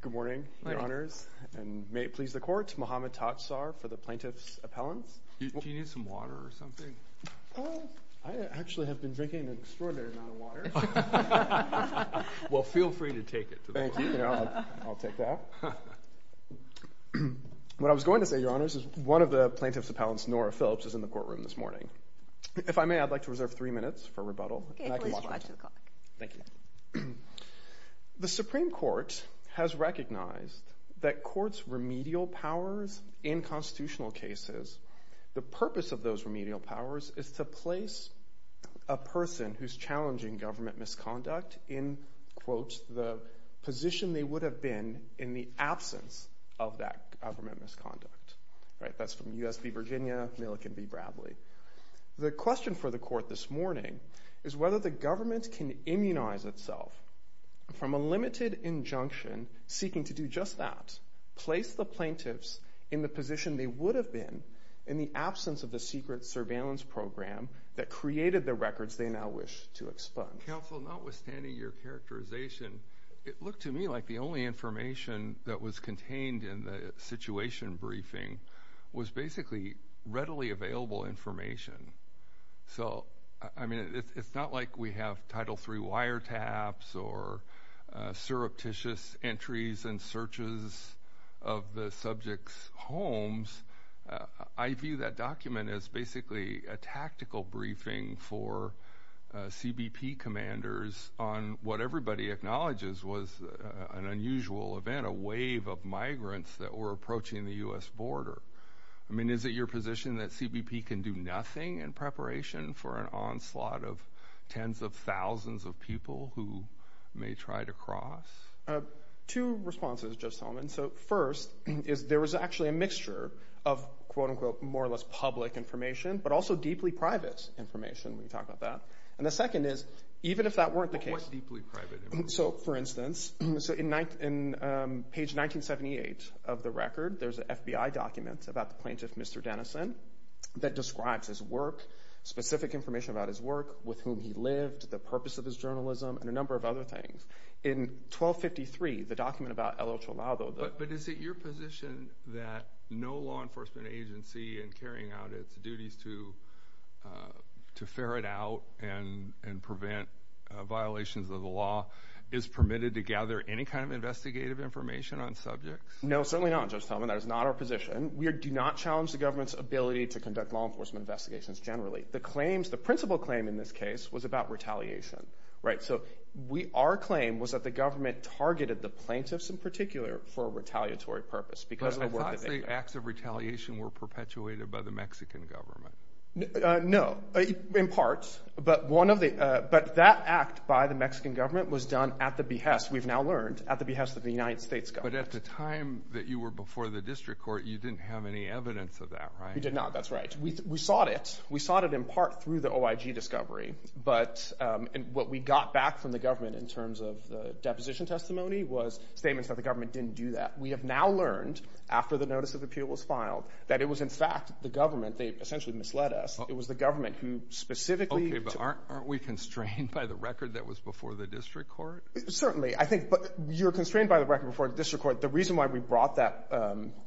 Good morning, your honors, and may it please the court, Mohamed Tatsar for the plaintiff's appellants. Do you need some water or something? I actually have been drinking an extraordinary amount of water. Well feel free to take it. Thank you. I'll take that. What I was going to say, your honors, is one of the plaintiff's appellants, Nora Phillips, is in the courtroom this morning. If I may, I'd like to reserve three minutes for rebuttal. Okay, please, go ahead to the clock. Thank you. The Supreme Court has recognized that courts' remedial powers in constitutional cases, the purpose of those remedial powers is to place a person who's challenging government misconduct in, quote, the position they would have been in the absence of that government misconduct. That's from U.S. v. Virginia, Millick v. Bradley. The question for the court this morning is whether the government can immunize itself from a limited injunction seeking to do just that, place the plaintiffs in the position they would have been in the absence of the secret surveillance program that created the records they now wish to expunge. Well, counsel, notwithstanding your characterization, it looked to me like the only information that was contained in the situation briefing was basically readily available information. So I mean, it's not like we have Title III wiretaps or surreptitious entries and searches of the subjects' homes. I view that document as basically a tactical briefing for CBP commanders on what everybody acknowledges was an unusual event, a wave of migrants that were approaching the U.S. border. I mean, is it your position that CBP can do nothing in preparation for an onslaught of tens of thousands of people who may try to cross? Two responses, Judge Solomon. So first is there was actually a mixture of, quote-unquote, more or less public information, but also deeply private information. We can talk about that. And the second is, even if that weren't the case- But what deeply private information? So for instance, in page 1978 of the record, there's an FBI document about the plaintiff, Mr. Denison, that describes his work, specific information about his work, with whom he lived, the purpose of his journalism, and a number of other things. In 1253, the document about El Ochoalado- But is it your position that no law enforcement agency in carrying out its duties to ferret out and prevent violations of the law is permitted to gather any kind of investigative information on subjects? No, certainly not, Judge Solomon. That is not our position. We do not challenge the government's ability to conduct law enforcement investigations generally. The claims, the principal claim in this case, was about retaliation. Right? So our claim was that the government targeted the plaintiffs in particular for a retaliatory purpose because of the work that they did. But I thought the acts of retaliation were perpetuated by the Mexican government. No, in part. But that act by the Mexican government was done at the behest, we've now learned, at the behest of the United States government. But at the time that you were before the district court, you didn't have any evidence of that, right? We did not. That's right. We sought it. We sought it in part through the OIG discovery. But what we got back from the government in terms of the deposition testimony was statements that the government didn't do that. We have now learned, after the notice of appeal was filed, that it was in fact the government, they essentially misled us. It was the government who specifically... Okay, but aren't we constrained by the record that was before the district court? Certainly. I think you're constrained by the record before the district court. The reason why we brought that,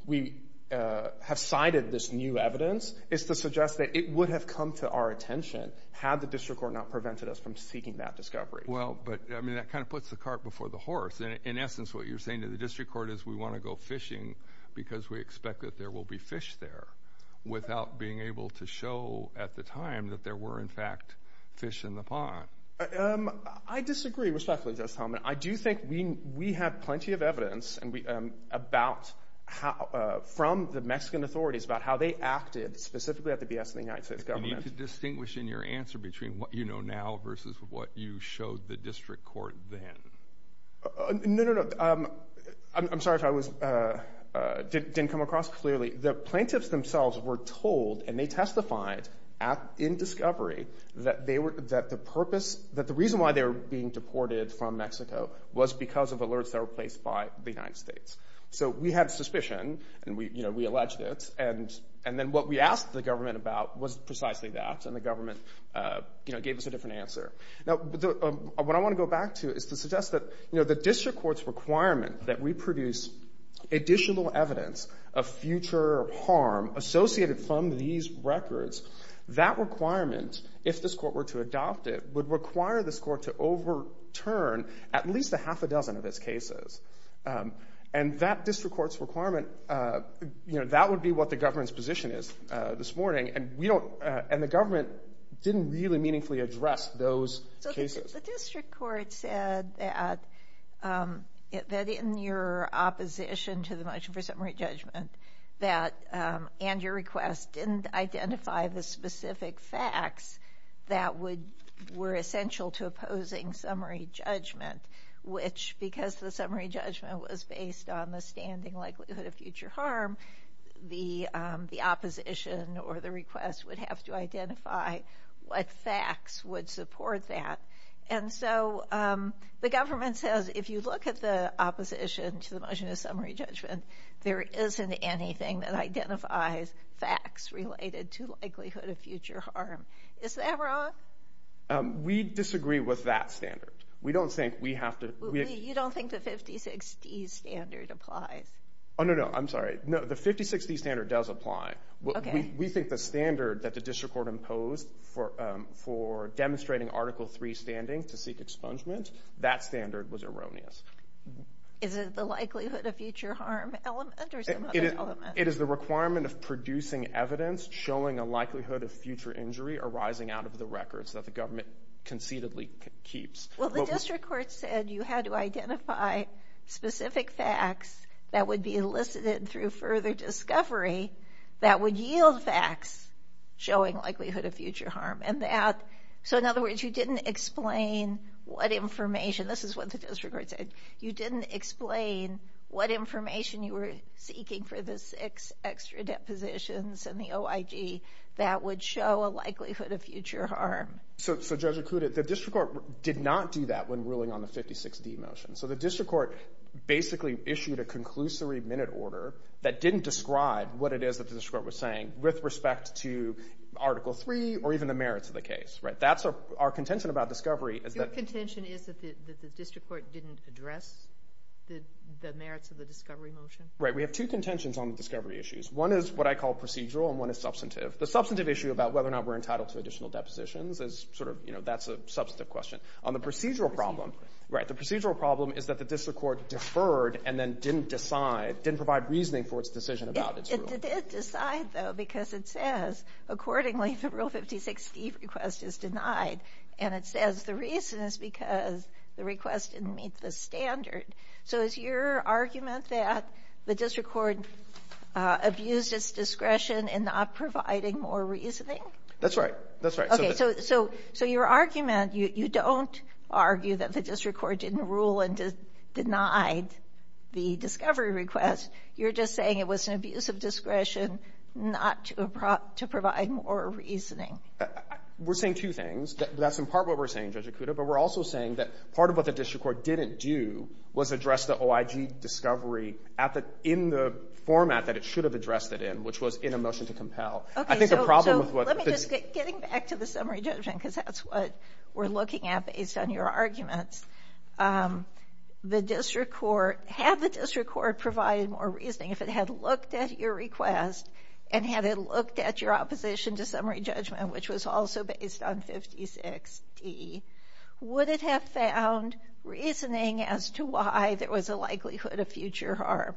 we have cited this new evidence, is to suggest that it would have come to our attention had the district court not prevented us from seeking that discovery. Well, but I mean, that kind of puts the cart before the horse. In essence, what you're saying to the district court is we want to go fishing because we expect that there will be fish there without being able to show at the time that there were in fact fish in the pond. I disagree respectfully, Justice Helman. I do think we have plenty of evidence from the Mexican authorities about how they acted specifically at the BS in the United States government. You need to distinguish in your answer between what you know now versus what you showed the district court then. No, no, no. I'm sorry if I didn't come across clearly. The plaintiffs themselves were told, and they testified in discovery, that the reason why they were being deported from Mexico was because of alerts that were placed by the United States. So we had suspicion, and we alleged it, and then what we asked the government about was precisely that, and the government gave us a different answer. Now, what I want to go back to is to suggest that the district court's requirement that we produce additional evidence of future harm associated from these records, that requirement, if this court were to adopt it, would require this court to overturn at least a half a dozen of its cases, and that district court's requirement, you know, that would be what the government's position is this morning, and we don't, and the government didn't really meaningfully address those cases. So the district court said that in your opposition to the motion for summary judgment that, and your request, didn't identify the specific facts that would, were essential to opposing summary judgment, which, because the summary judgment was based on the standing likelihood of future harm, the opposition or the request would have to identify what facts would support that, and so the government says, if you look at the opposition to the motion of summary judgment, there isn't anything that identifies facts related to likelihood of future harm. Is that wrong? We disagree with that standard. We don't think we have to. You don't think the 50-60 standard applies? Oh, no, no, I'm sorry. No, the 50-60 standard does apply. We think the standard that the district court imposed for demonstrating Article III standing to seek expungement, that standard was erroneous. Is it the likelihood of future harm element or some other element? It is the requirement of producing evidence showing a likelihood of future injury arising out of the records that the government concededly keeps. Well, the district court said you had to identify specific facts that would be elicited through further discovery that would yield facts showing likelihood of future harm, and that, so in other words, you didn't explain what information, this is what the district court said, you didn't explain what information you were seeking for the six extra depositions in the OIG that would show a likelihood of future harm. So Judge Okuda, the district court did not do that when ruling on the 50-60 motion. So the district court basically issued a conclusory minute order that didn't describe what it is that the district court was saying with respect to Article III or even the merits of the case, right? That's our contention about discovery. Your contention is that the district court didn't address the merits of the discovery motion? Right. We have two contentions on the discovery issues. One is what I call procedural and one is substantive. The substantive issue about whether or not we're entitled to additional depositions is sort of, you know, that's a substantive question. On the procedural problem, right, the procedural problem is that the district court deferred and then didn't decide, didn't provide reasoning for its decision about its rule. It did decide, though, because it says, accordingly, the Rule 50-60 request is denied, and it says the reason is because the request didn't meet the standard. So is your argument that the district court abused its discretion in not providing more reasoning? That's right. That's right. Okay, so your argument, you don't argue that the district court didn't rule and denied the discovery request. You're just saying it was an abuse of discretion not to provide more reasoning. We're saying two things. That's in part what we're saying, Judge Acuda, but we're also saying that part of what the problem was addressed the OIG discovery in the format that it should have addressed it in, which was in a motion to compel. Okay, so let me just get back to the summary judgment, because that's what we're looking at based on your arguments. The district court, had the district court provided more reasoning, if it had looked at your request and had it looked at your opposition to summary judgment, which was also based on 56-D, would it have found reasoning as to why there was a likelihood of future harm?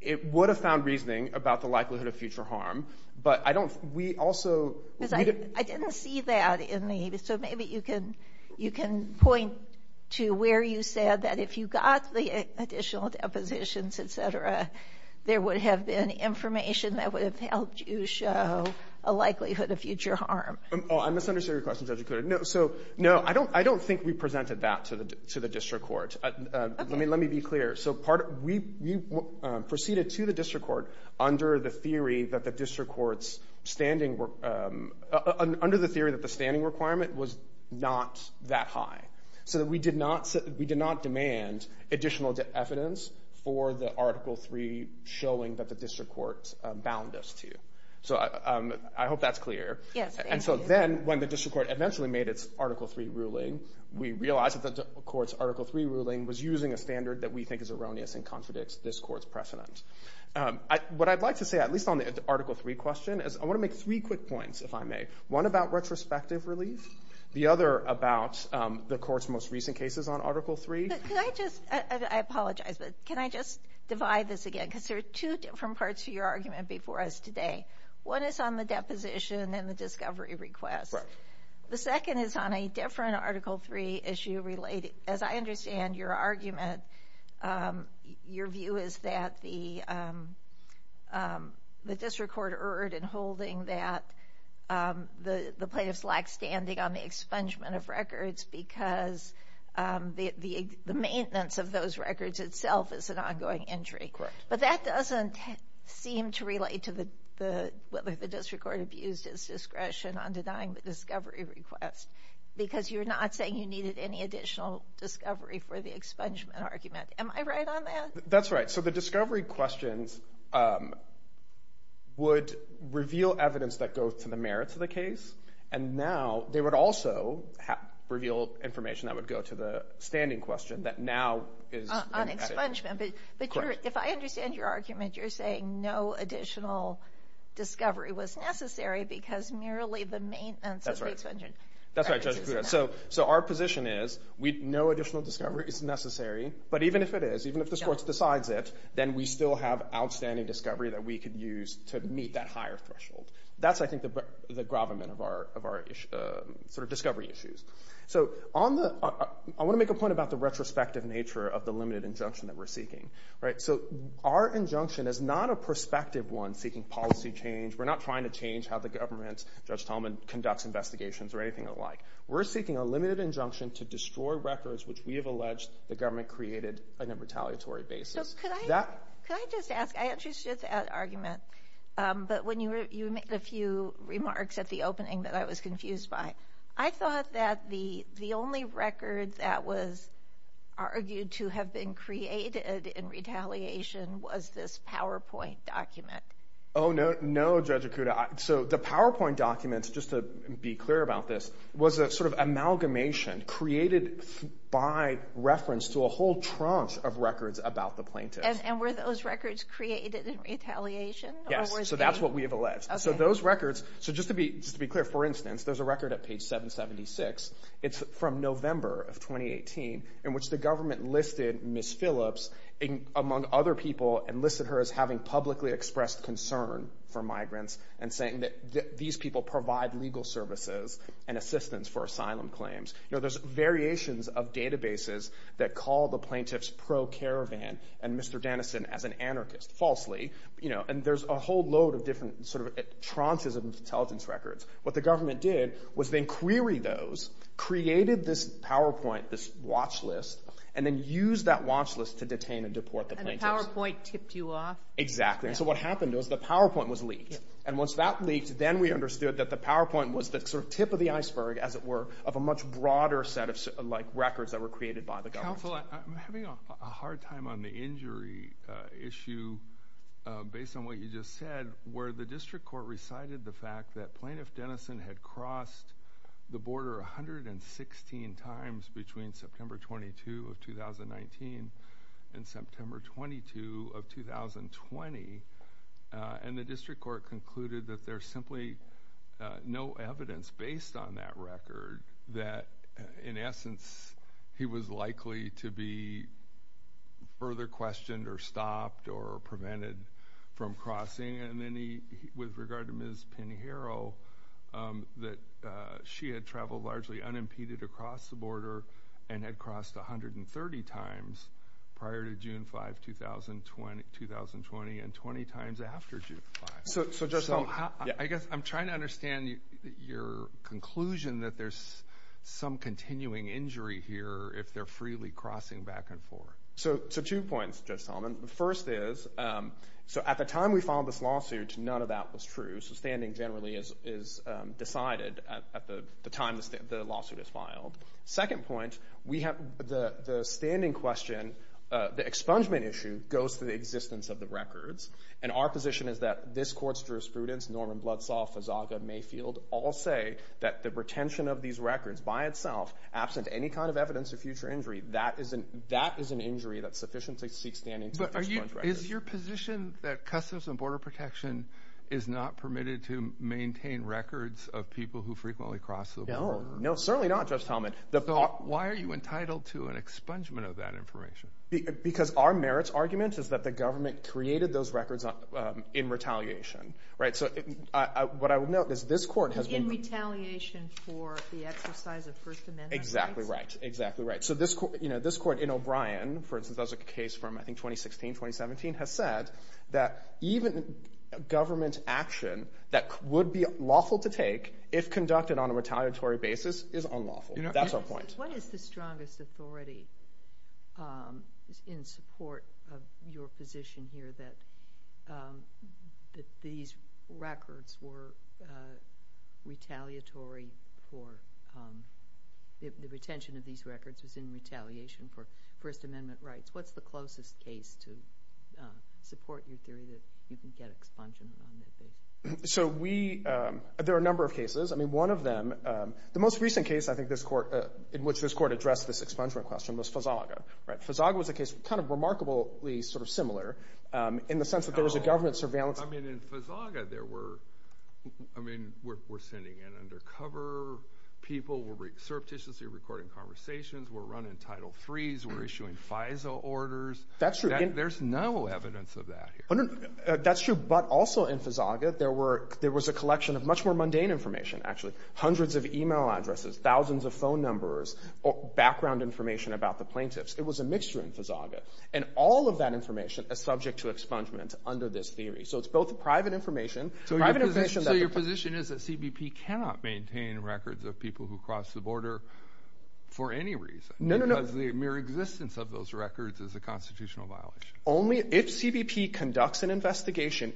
It would have found reasoning about the likelihood of future harm, but I don't, we also... I didn't see that in the, so maybe you can point to where you said that if you got the additional depositions, et cetera, there would have been information that would have helped you show a likelihood of future harm. Oh, I misunderstood your question, Judge Acuda. No, so, no, I don't think we presented that to the district court. Okay. Let me be clear. So we proceeded to the district court under the theory that the district court's standing, under the theory that the standing requirement was not that high, so that we did not demand additional evidence for the Article III showing that the district court bound us to. So I hope that's clear. Yes, thank you. And so then, when the district court eventually made its Article III ruling, we realized that the court's Article III ruling was using a standard that we think is erroneous and contradicts this court's precedent. What I'd like to say, at least on the Article III question, is I want to make three quick points, if I may. One about retrospective relief, the other about the court's most recent cases on Article III. Can I just, I apologize, but can I just divide this again, because there are two different parts to your argument before us today. One is on the deposition and the discovery request. The second is on a different Article III issue related, as I understand your argument, your view is that the district court erred in holding that the plaintiffs lack standing on the expungement of records because the maintenance of those records itself is an ongoing injury. But that doesn't seem to relate to whether the district court abused its discretion on denying the discovery request, because you're not saying you needed any additional discovery for the expungement argument. Am I right on that? That's right. So the discovery questions would reveal evidence that goes to the merits of the case, and now they would also reveal information that would go to the standing question that now is- On expungement. Correct. But if I understand your argument, you're saying no additional discovery was necessary because merely the maintenance of the expungement records is enough. That's right. So our position is, no additional discovery is necessary. But even if it is, even if this court decides it, then we still have outstanding discovery that we could use to meet that higher threshold. That's, I think, the gravamen of our discovery issues. So I want to make a point about the retrospective nature of the limited injunction that we're seeking. So our injunction is not a prospective one seeking policy change. We're not trying to change how the government, Judge Talman, conducts investigations or anything alike. We're seeking a limited injunction to destroy records which we have alleged the government created on a retaliatory basis. So could I just ask, I understood that argument, but when you made a few remarks at the opening that I was confused by. I thought that the only record that was argued to have been created in retaliation was this PowerPoint document. Oh, no, Judge Okuda. So the PowerPoint documents, just to be clear about this, was a sort of amalgamation created by reference to a whole trunk of records about the plaintiff. And were those records created in retaliation? Yes, so that's what we have alleged. So those records, so just to be clear, for instance, there's a record at page 776. It's from November of 2018 in which the government listed Ms. Phillips among other people and listed her as having publicly expressed concern for migrants and saying that these people provide legal services and assistance for asylum claims. You know, there's variations of databases that call the plaintiffs pro-caravan and Mr. Dennison as an anarchist, falsely. And there's a whole load of different sort of tranches of intelligence records. What the government did was they queried those, created this PowerPoint, this watch list, and then used that watch list to detain and deport the plaintiffs. And the PowerPoint tipped you off? Exactly. And so what happened was the PowerPoint was leaked. And once that leaked, then we understood that the PowerPoint was the sort of tip of the broader set of records that were created by the government. Counselor, I'm having a hard time on the injury issue based on what you just said, where the district court recited the fact that Plaintiff Dennison had crossed the border 116 times between September 22 of 2019 and September 22 of 2020, and the district court concluded that there's simply no evidence based on that record that, in essence, he was likely to be further questioned or stopped or prevented from crossing. And then he, with regard to Ms. Pinheiro, that she had traveled largely unimpeded across the border and had crossed 130 times prior to June 5, 2020, and 20 times after June 5. So Judge Solomon, I guess I'm trying to understand your conclusion that there's some continuing injury here if they're freely crossing back and forth. So two points, Judge Solomon. The first is, so at the time we filed this lawsuit, none of that was true. So standing generally is decided at the time the lawsuit is filed. Second point, the standing question, the expungement issue, goes to the existence of the records. And our position is that this court's jurisprudence, Norman Bloodsaw, Fazaga, Mayfield, all say that the retention of these records by itself, absent any kind of evidence of future injury, that is an injury that sufficiently seeks standing to expunge records. But is your position that Customs and Border Protection is not permitted to maintain records of people who frequently cross the border? No. No, certainly not, Judge Solomon. So why are you entitled to an expungement of that information? Because our merits argument is that the government created those records in retaliation, right? So what I would note is this court has been- In retaliation for the exercise of First Amendment rights? Exactly right. Exactly right. So this court in O'Brien, for instance, that was a case from I think 2016, 2017, has said that even government action that would be lawful to take if conducted on a retaliatory basis is unlawful. That's our point. What is the strongest authority in support of your position here that these records were retaliatory for- the retention of these records was in retaliation for First Amendment rights? What's the closest case to support your theory that you can get expungement on that basis? So we- there are a number of cases. I mean, one of them- the most recent case I think this court- in which this court addressed this expungement question was Fazaga, right? Fazaga was a case kind of remarkably sort of similar in the sense that there was a government surveillance- I mean, in Fazaga, there were- I mean, we're sending in undercover people, we're surreptitiously recording conversations, we're running Title IIIs, we're issuing FISA orders. That's true. There's no evidence of that here. That's true. But also in Fazaga, there were- there was a collection of much more mundane information, actually. Hundreds of email addresses, thousands of phone numbers, background information about the plaintiffs. It was a mixture in Fazaga. And all of that information is subject to expungement under this theory. So it's both private information- So your position is that CBP cannot maintain records of people who crossed the border for any reason? No, no, no. Because the mere existence of those records is a constitutional violation. Only if CBP conducts an investigation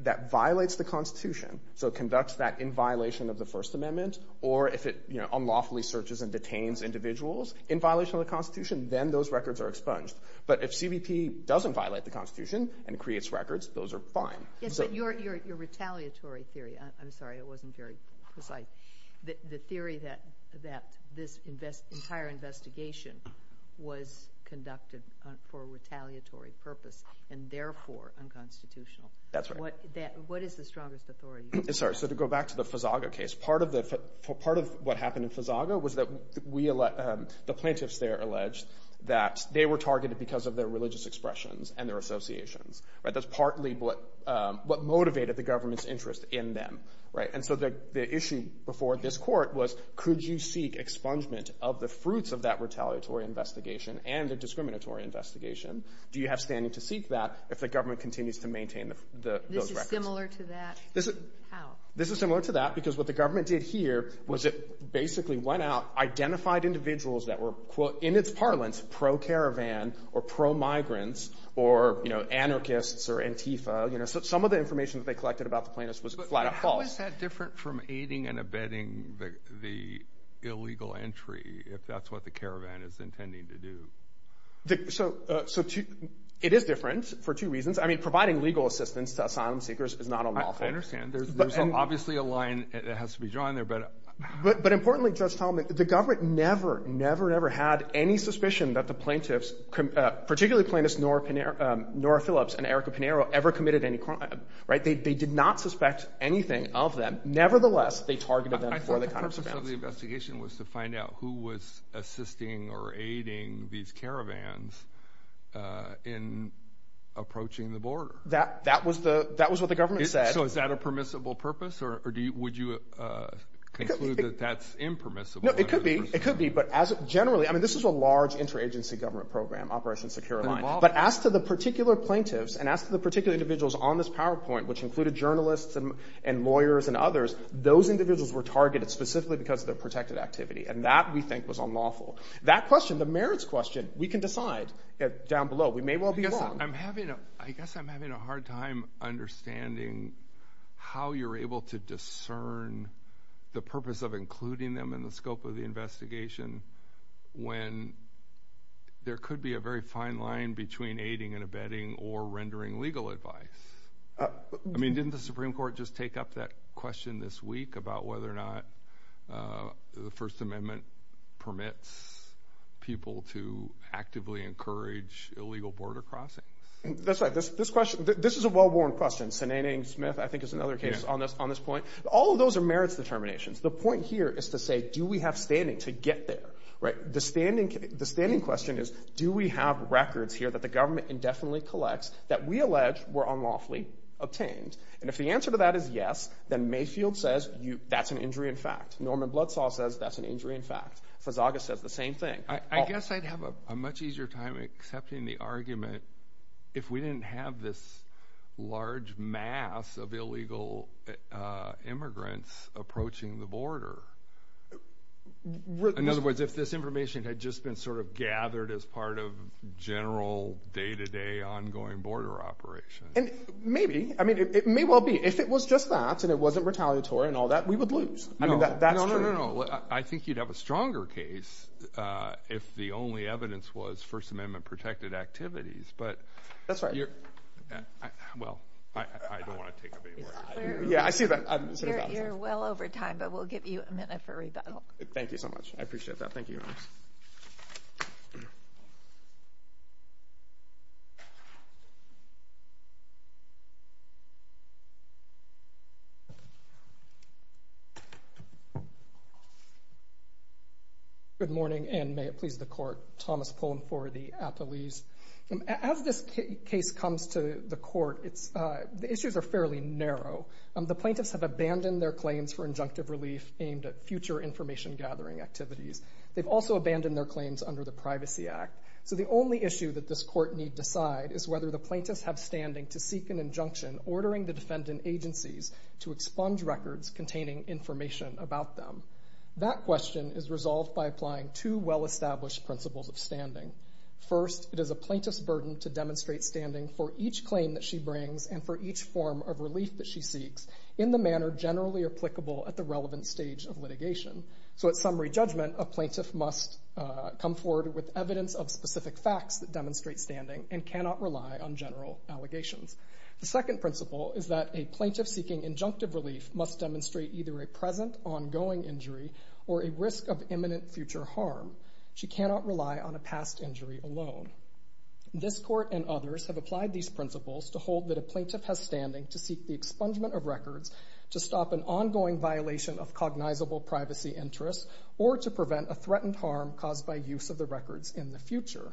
that violates the Constitution, so it conducts that in violation of the First Amendment, or if it unlawfully searches and detains individuals in violation of the Constitution, then those records are expunged. But if CBP doesn't violate the Constitution and creates records, those are fine. Yes, but your retaliatory theory- I'm sorry, it wasn't very precise- the theory that this entire investigation was conducted for a retaliatory purpose, and therefore unconstitutional. That's right. What is the strongest authority? Sorry, so to go back to the Fazaga case, part of what happened in Fazaga was that the plaintiffs there alleged that they were targeted because of their religious expressions and their associations. That's partly what motivated the government's interest in them. And so the issue before this Court was, could you seek expungement of the fruits of that retaliatory investigation and the discriminatory investigation? Do you have standing to seek that if the government continues to maintain those records? This is similar to that? This is similar to that because what the government did here was it basically went out, identified individuals that were, in its parlance, pro-caravan or pro-migrants or anarchists or antifa. Some of the information that they collected about the plaintiffs was flat out false. But how is that different from aiding and abetting the illegal entry, if that's what the caravan is intending to do? It is different for two reasons. I mean, providing legal assistance to asylum seekers is not unlawful. I understand. There's obviously a line that has to be drawn there, but- But importantly, Judge Talmadge, the government never, never, never had any suspicion that the plaintiffs, particularly Plaintiffs Nora Phillips and Erica Pinero, ever committed any crime. Right? They did not suspect anything of them. Nevertheless, they targeted them for the purpose of expungement. I thought the purpose of the investigation was to find out who was assisting or aiding these caravans in approaching the border. That was the, that was what the government said. So is that a permissible purpose or would you conclude that that's impermissible? No, it could be. It could be. But as generally, I mean, this is a large interagency government program, Operation Secure Line. But as to the particular plaintiffs and as to the particular individuals on this PowerPoint, which included journalists and lawyers and others, those individuals were targeted specifically because of their protected activity. And that we think was unlawful. That question, the merits question, we can decide down below. We may well be wrong. I guess I'm having a hard time understanding how you're able to discern the purpose of when there could be a very fine line between aiding and abetting or rendering legal advice. I mean, didn't the Supreme Court just take up that question this week about whether or not the First Amendment permits people to actively encourage illegal border crossing? That's right. This question, this is a well-worn question. Senating Smith, I think, is another case on this point. All of those are merits determinations. The point here is to say, do we have standing to get there? The standing question is, do we have records here that the government indefinitely collects that we allege were unlawfully obtained? And if the answer to that is yes, then Mayfield says, that's an injury in fact. Norman Bloodsaw says, that's an injury in fact. Fazaga says the same thing. I guess I'd have a much easier time accepting the argument if we didn't have this large mass of illegal immigrants approaching the border. In other words, if this information had just been sort of gathered as part of general day-to-day ongoing border operation. Maybe. I mean, it may well be. If it was just that and it wasn't retaliatory and all that, we would lose. I mean, that's true. No, no, no, no. I think you'd have a stronger case if the only evidence was First Amendment-protected activities. That's right. Well, I don't want to take up any more of your time. Yeah, I see that. You're well over time, but we'll give you a minute for rebuttal. Thank you so much. I appreciate that. Thank you. Good morning, and may it please the Court. Thomas Pullen for the Attalees. As this case comes to the Court, the issues are fairly narrow. The plaintiffs have abandoned their claims for injunctive relief aimed at future information gathering activities. They've also abandoned their claims under the Privacy Act. So the only issue that this Court need decide is whether the plaintiffs have standing to seek an injunction ordering the defendant agencies to expunge records containing information about them. That question is resolved by applying two well-established principles of standing. First, it is a plaintiff's burden to demonstrate standing for each claim that she brings and for each form of relief that she seeks in the manner generally applicable at the relevant stage of litigation. So at summary judgment, a plaintiff must come forward with evidence of specific facts that demonstrate standing and cannot rely on general allegations. The second principle is that a plaintiff seeking injunctive relief must demonstrate either a present ongoing injury or a risk of imminent future harm. She cannot rely on a past injury alone. This Court and others have applied these principles to hold that a plaintiff has standing to seek the expungement of records to stop an ongoing violation of cognizable privacy interests or to prevent a threatened harm caused by use of the records in the future.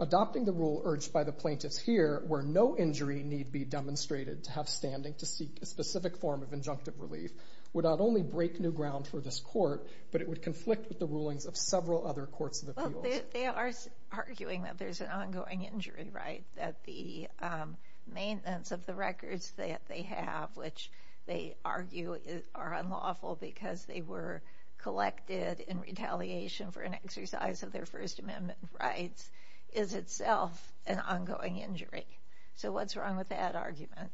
Adopting the rule urged by the plaintiffs here, where no injury need be demonstrated to have standing to seek a specific form of injunctive relief, would not only break new They are arguing that there's an ongoing injury, right? That the maintenance of the records that they have, which they argue are unlawful because they were collected in retaliation for an exercise of their First Amendment rights, is itself an ongoing injury. So what's wrong with that argument?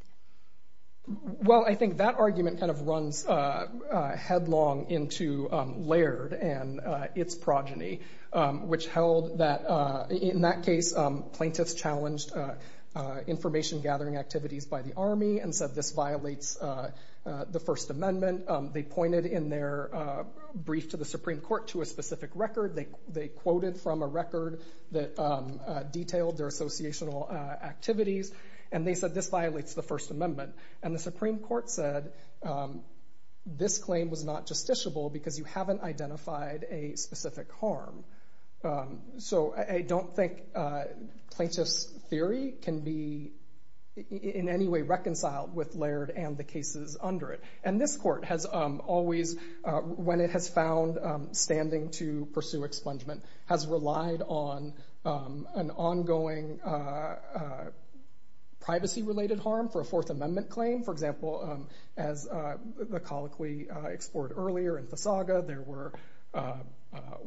Well, I think that argument kind of runs headlong into Laird and its progeny, which held that in that case, plaintiffs challenged information gathering activities by the Army and said this violates the First Amendment. They pointed in their brief to the Supreme Court to a specific record. They quoted from a record that detailed their associational activities, and they said this violates the First Amendment. And the Supreme Court said this claim was not justiciable because you haven't identified a specific harm. So I don't think plaintiff's theory can be in any way reconciled with Laird and the cases under it. And this court has always, when it has found standing to pursue expungement, has relied on an ongoing privacy-related harm for a Fourth Amendment claim. For example, as the colloquy explored earlier in Fasaga, there were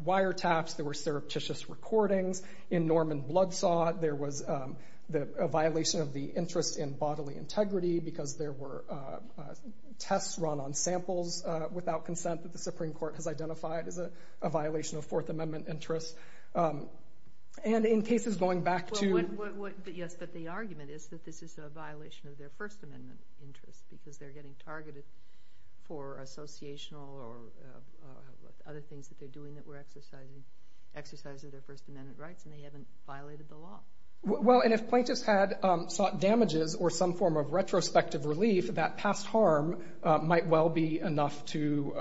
wiretaps, there were surreptitious recordings. In Norman Bloodsot, there was a violation of the interest in bodily integrity because there were tests run on samples without consent that the Supreme Court has identified as a violation of Fourth Amendment interests. And in cases going back to... Well, yes, but the argument is that this is a violation of their First Amendment interest because they're getting targeted for associational or other things that they're doing that were exercising their First Amendment rights, and they haven't violated the law. Well, and if plaintiffs had sought damages or some form of retrospective relief, that past harm might well be enough to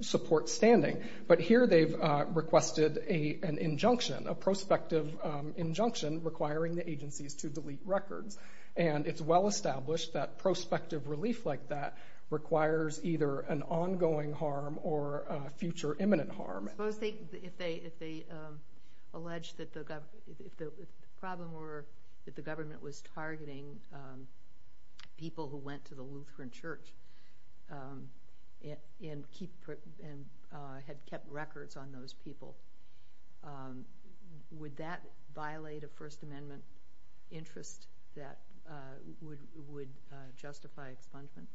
support standing. But here they've requested an injunction, a prospective injunction requiring the agencies to delete records. And it's well-established that prospective relief like that requires either an ongoing harm or a future imminent harm. If the problem were that the government was targeting people who went to the Lutheran church and had kept records on those people, would that violate a First Amendment interest that would justify expungement?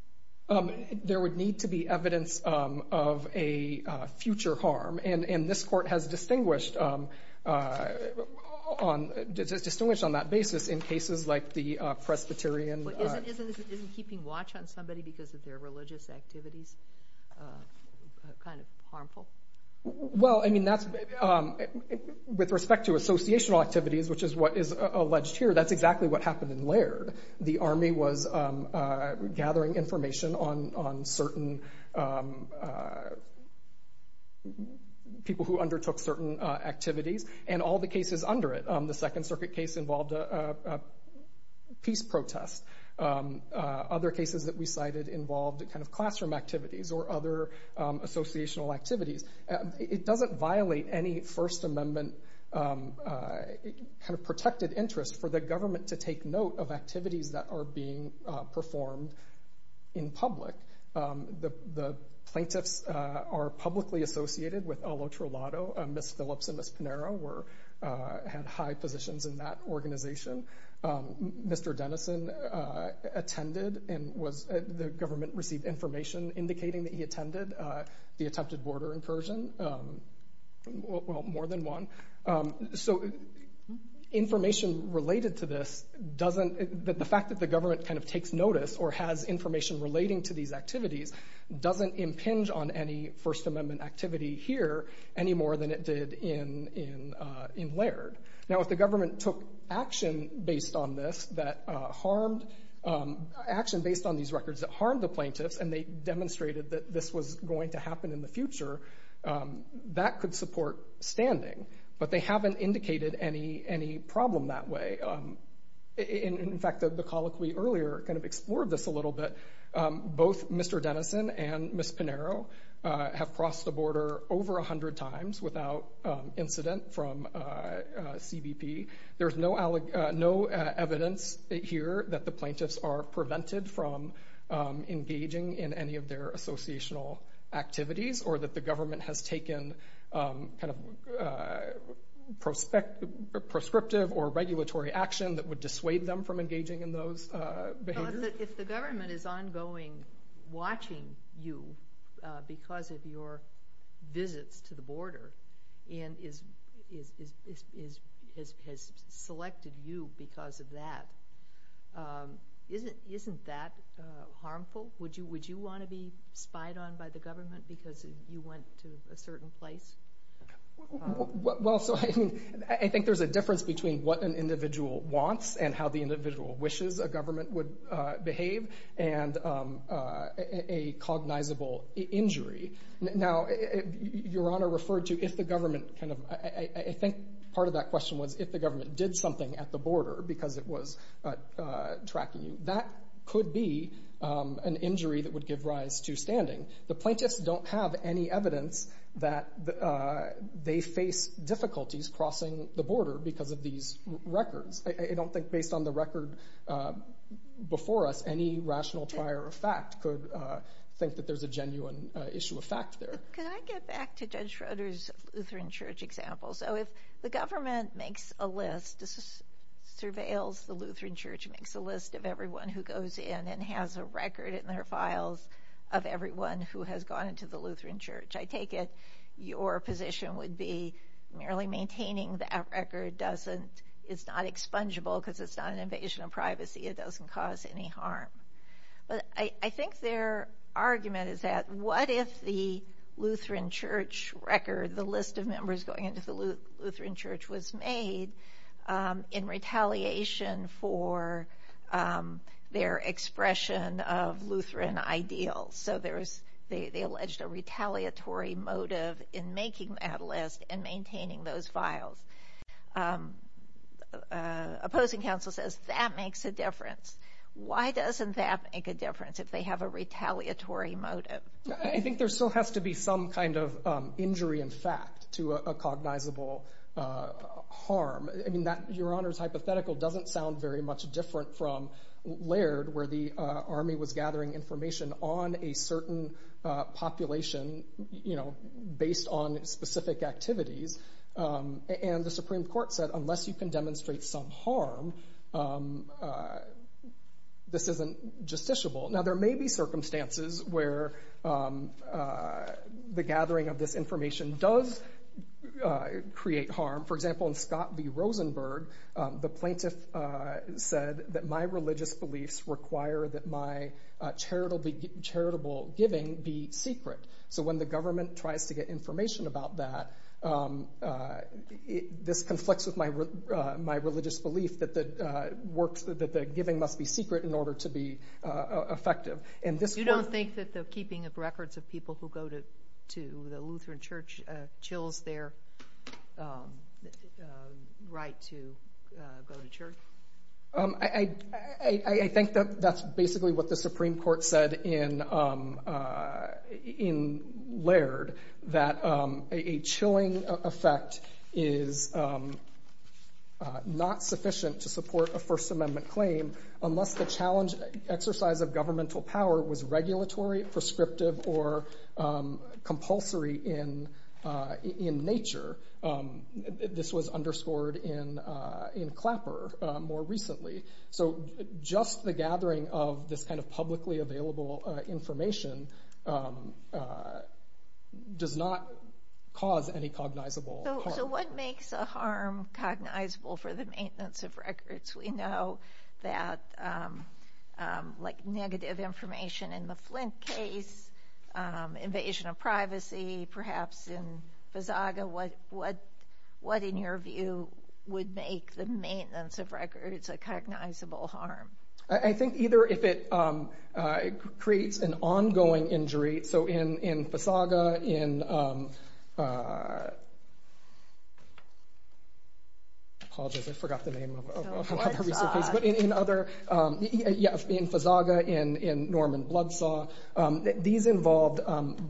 There would need to be evidence of a future harm. And this Court has distinguished on that basis in cases like the Presbyterian... Isn't keeping watch on somebody because of their religious activities kind of harmful? Well, I mean, that's... With respect to associational activities, which is what is alleged here, that's exactly what happened in Laird. The Army was gathering information on certain people who undertook certain activities and all the cases under it. The Second Circuit case involved a peace protest. Other cases that we cited involved kind of classroom activities or other associational activities. It doesn't violate any First Amendment kind of protected interest for the government to take note of activities that are being performed in public. The plaintiffs are publicly associated with Al Otrulato. Ms. Phillips and Ms. Pinheiro had high positions in that organization. Mr. Dennison attended and was... The government received information indicating that he attended the attempted border incursion. Well, more than one. So information related to this doesn't... The fact that the government kind of takes notice or has information relating to these activities doesn't impinge on any First Amendment activity here any more than it did in Laird. Now, if the government took action based on this that harmed... Action based on these records that harmed the plaintiffs and they demonstrated that this was going to happen in the future, that could support standing. But they haven't indicated any problem that way. In fact, the colloquy earlier kind of explored this a little bit. Both Mr. Dennison and Ms. Pinheiro have crossed the border over 100 times without incident from CBP. There's no evidence here that the plaintiffs are prevented from engaging in any of their associational activities or that the government has taken kind of proscriptive or regulatory action that would dissuade them from engaging in those behaviors. If the government is ongoing watching you because of your visits to the border and has selected you because of that, isn't that harmful? Would you want to be spied on by the government because you went to a certain place? Well, I think there's a difference between what an individual wants and how the individual wishes a government would behave and a cognizable injury. Now, Your Honor referred to if the government kind of... I think part of that question was if the government did something at the border because it was tracking you. That could be an injury that would give rise to standing. The plaintiffs don't have any evidence that they face difficulties crossing the border because of these records. I don't think, based on the record before us, any rational trier of fact could think that there's a genuine issue of fact there. Could I get back to Judge Schroeder's Lutheran Church example? So if the government makes a list, surveils the Lutheran Church, makes a list of everyone who goes in and has a record in their files of everyone who has gone into the Lutheran Church, I take it your position would be merely maintaining that record is not expungeable because it's not an invasion of privacy. It doesn't cause any harm. But I think their argument is that what if the Lutheran Church record, the list of members going into the Lutheran Church was made in retaliation for their expression of Lutheran ideals. So they alleged a retaliatory motive in making that list and maintaining those files. Opposing counsel says that makes a difference. Why doesn't that make a difference if they have a retaliatory motive? I think there still has to be some kind of injury in fact to a cognizable harm. Your Honor's hypothetical doesn't sound very much different from Laird where the army was gathering information on a certain population based on specific activities. And the Supreme Court said unless you can demonstrate some harm, this isn't justiciable. Now there may be circumstances where the gathering of this information does create harm. For example, in Scott v. Rosenberg, the plaintiff said that my religious beliefs require that my charitable giving be secret. So when the government tries to get information about that, this conflicts with my religious belief that the giving must be secret in order to be effective. You don't think that the keeping of records of people who go to the Lutheran Church chills their right to go to church? I think that's basically what the Supreme Court said in Laird, that a chilling effect is not sufficient to support a First Amendment claim unless the challenge exercise of governmental power was regulatory, prescriptive, or compulsory in nature. This was underscored in Clapper more recently. Just the gathering of this publicly available information does not cause any cognizable harm. So what makes a harm cognizable for the maintenance of records? We know that negative information in the Flint case, invasion of privacy, perhaps in Visaga. What, in your view, would make the maintenance of records a cognizable harm? I think either if it creates an ongoing injury, so in Visaga, in... I apologize, I forgot the name of a recent case. In Visaga, in Norman Bloodsaw, these involved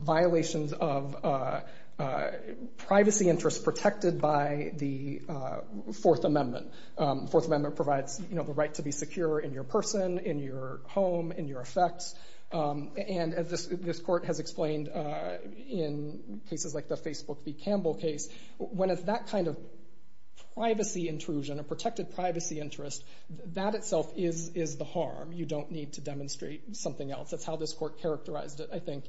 violations of privacy interests protected by the Fourth Amendment. The Fourth Amendment provides the right to be secure in your person, in your home, in your effects. This court has explained in cases like the Facebook v. Campbell case, when it's that kind of privacy intrusion, a protected privacy interest, that itself is the harm. You don't need to demonstrate something else. That's how this court characterized it, I think,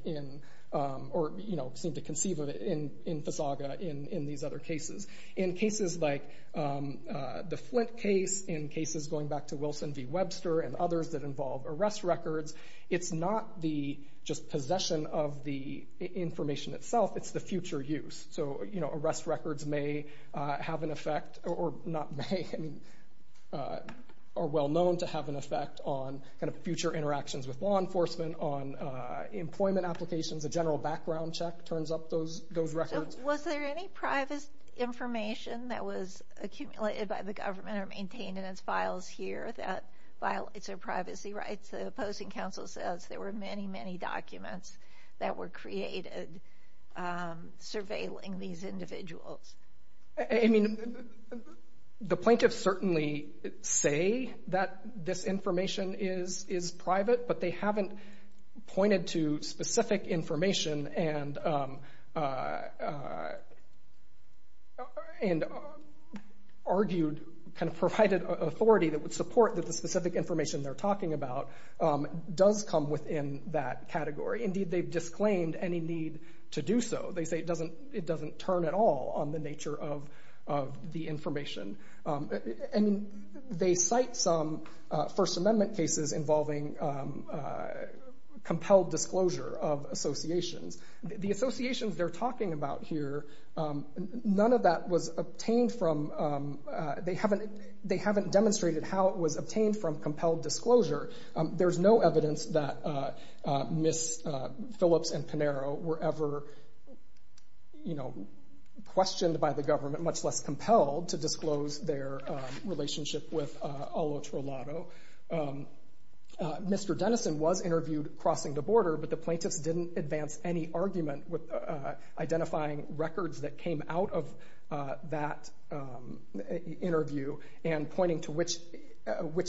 or seemed to conceive of it in Visaga, in these other cases. In cases like the Flint case, in cases going back to Wilson v. Webster and others that involve arrest records, it's not the just possession of the information itself, it's the future use. Arrest records may have an effect, or not may, are well known to have an effect on future interactions with law enforcement, on employment applications, a general background check turns up those records. Was there any private information that was accumulated by the government or maintained in its files here that violates their privacy rights? The opposing counsel says there were many, many documents that were created surveilling these individuals. I mean, the plaintiffs certainly say that this information is private, but they haven't pointed to specific information argued, kind of provided authority that would support that the specific information they're talking about does come within that category. Indeed, they've disclaimed any need to do so. They say it doesn't turn at all on the nature of the information. They cite some First Amendment cases involving compelled disclosure of associations. The associations they're talking about here, none of that was obtained from, they haven't demonstrated how it was obtained from compelled disclosure. There's no evidence that Ms. Phillips and Pinero were ever questioned by the government, much less compelled to disclose their relationship with Olo Trolado. Mr. Dennison was interviewed crossing the border, but the plaintiffs didn't advance any argument with identifying records that came out of that interview and pointing to which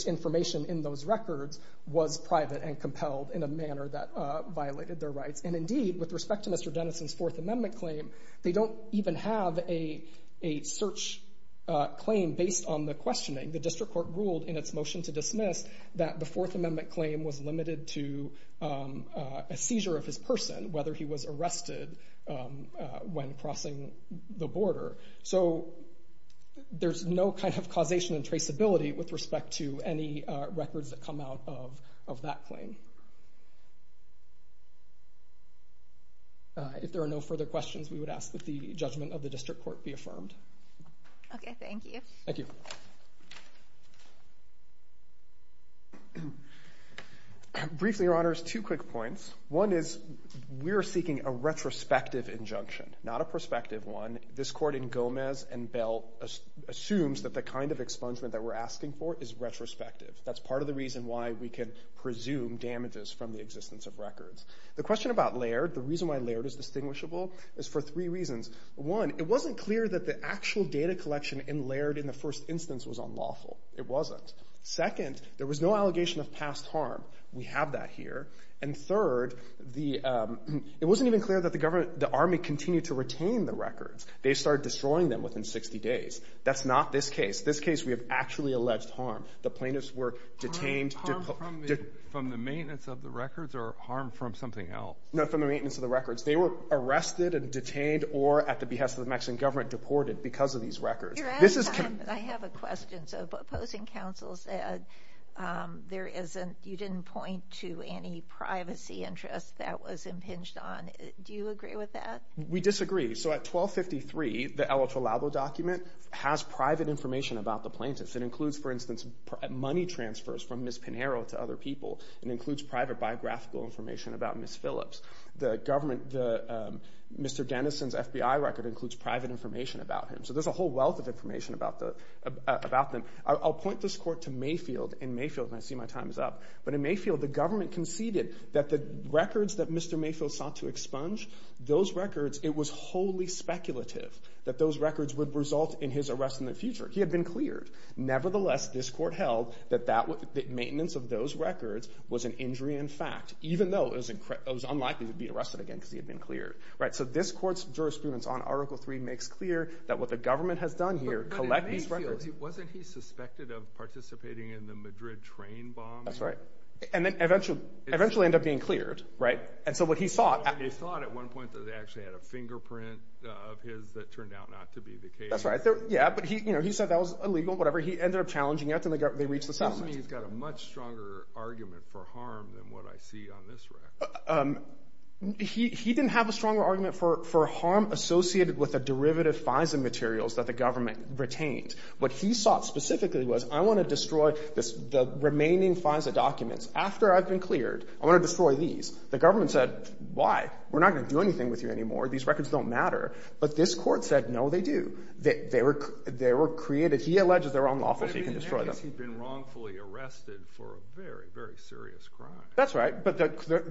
information in those records was private and compelled in a manner that violated their rights. Indeed, with respect to Mr. Dennison's Fourth Amendment claim, they don't even have a search claim based on the questioning. The District Court ruled in its motion to dismiss that the Fourth Amendment claim was limited to a seizure of his person, whether he was arrested when crossing the border. There's no causation and traceability with respect to any records that come out of that claim. If there are no further questions, we would ask that the judgment of the District Court be affirmed. Thank you. Briefly, Your Honor, two quick points. One is we're seeking a retrospective injunction, not a prospective one. This Court in Gomez and Bell assumes that the kind of expungement that we're asking for is retrospective. That's part of the reason why we can presume damages from the existence of records. The question about Laird, the reason why Laird is distinguishable, is for three reasons. One, it wasn't clear that the actual data collection in Laird in the first instance was unlawful. It wasn't. Second, there was no allegation of past harm. We have that here. And third, it wasn't even clear that the Army continued to retain the records. They started destroying them within 60 days. That's not this case. This case, we have actually alleged harm. The plaintiffs were detained. From the maintenance of the records or harm from something else? No, from the maintenance of the records. They were arrested and detained or, at the behest of the Mexican government, deported because of these records. I have a question. Opposing counsel said you didn't point to any privacy interest that was impinged on. Do you agree with that? We disagree. So at 1253, the El Otro Labo document has private information about the plaintiffs. It includes, for instance, money transfers from Ms. Pinheiro to other people. It includes private biographical information about Ms. Phillips. Mr. Denison's FBI record includes private information about him. So there's a whole wealth of information about them. I'll point this court to Mayfield, and I see my time is up. But in Mayfield, the government conceded that the records that Mr. Mayfield sought to expunge, those records, it was wholly speculative that those records would result in his arrest in the future. He had been cleared. Nevertheless, this court held that maintenance of those records was an injury in fact, even though it was unlikely he would be arrested again because he had been cleared. So this court's jurisprudence on Article III makes clear that what the government has done here, collect these records... But in Mayfield, wasn't he suspected of participating in the Madrid train bomb? That's right. And then eventually it ended up being cleared. And so what he sought... And they thought at one point that they actually had a fingerprint of his that turned out not to be the case. Yeah, but he said that was illegal, whatever. He ended up challenging it, and they reached a settlement. It seems to me he's got a much stronger argument for harm than what I see on this record. He didn't have a stronger argument for harm associated with the derivative FISA materials that the government retained. What he sought specifically was, I want to destroy the remaining FISA documents. After I've been cleared, I want to destroy these. The government said, why? We're not going to do anything with you anymore. These records don't matter. But this court said, no, they do. They were created... He alleges they're unlawful, so you can destroy them. He's been wrongfully arrested for a very, very serious crime. That's right, but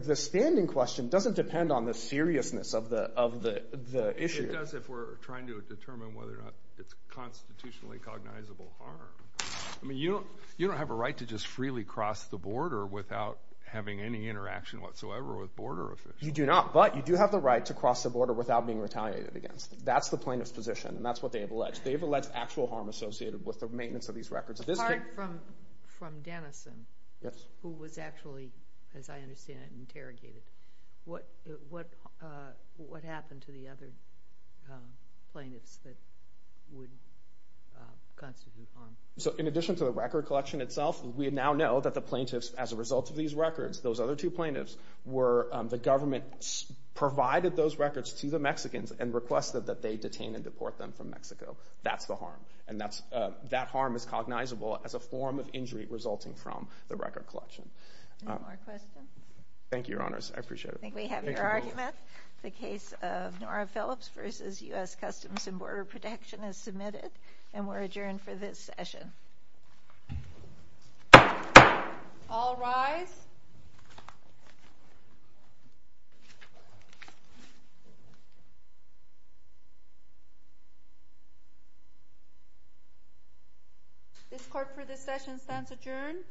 the standing question doesn't depend on the seriousness of the issue. It does if we're trying to determine whether or not it's constitutionally cognizable harm. You don't have a right to just freely cross the border without having any interaction whatsoever with border officials. You do not, but you do have the right to cross the border without being retaliated against. That's the plaintiff's position, and that's what they've alleged. They've alleged actual harm associated with the maintenance of these records. Apart from Dennison, who was actually, as I understand it, interrogated, what happened to the other plaintiffs that would constitute harm? In addition to the record collection itself, we now know that the plaintiffs, as a result of these records, those other two plaintiffs were... The government provided those records to the Mexicans and requested that they detain and deport them from Mexico. That's the harm, and that harm is cognizable as a form of injury resulting from the record collection. Any more questions? Thank you, Your Honors. I appreciate it. I think we have your argument. The case of Nora Phillips versus U.S. Customs and Border Protection is submitted, and we're adjourned for this session. All rise. This court for this session stands adjourned.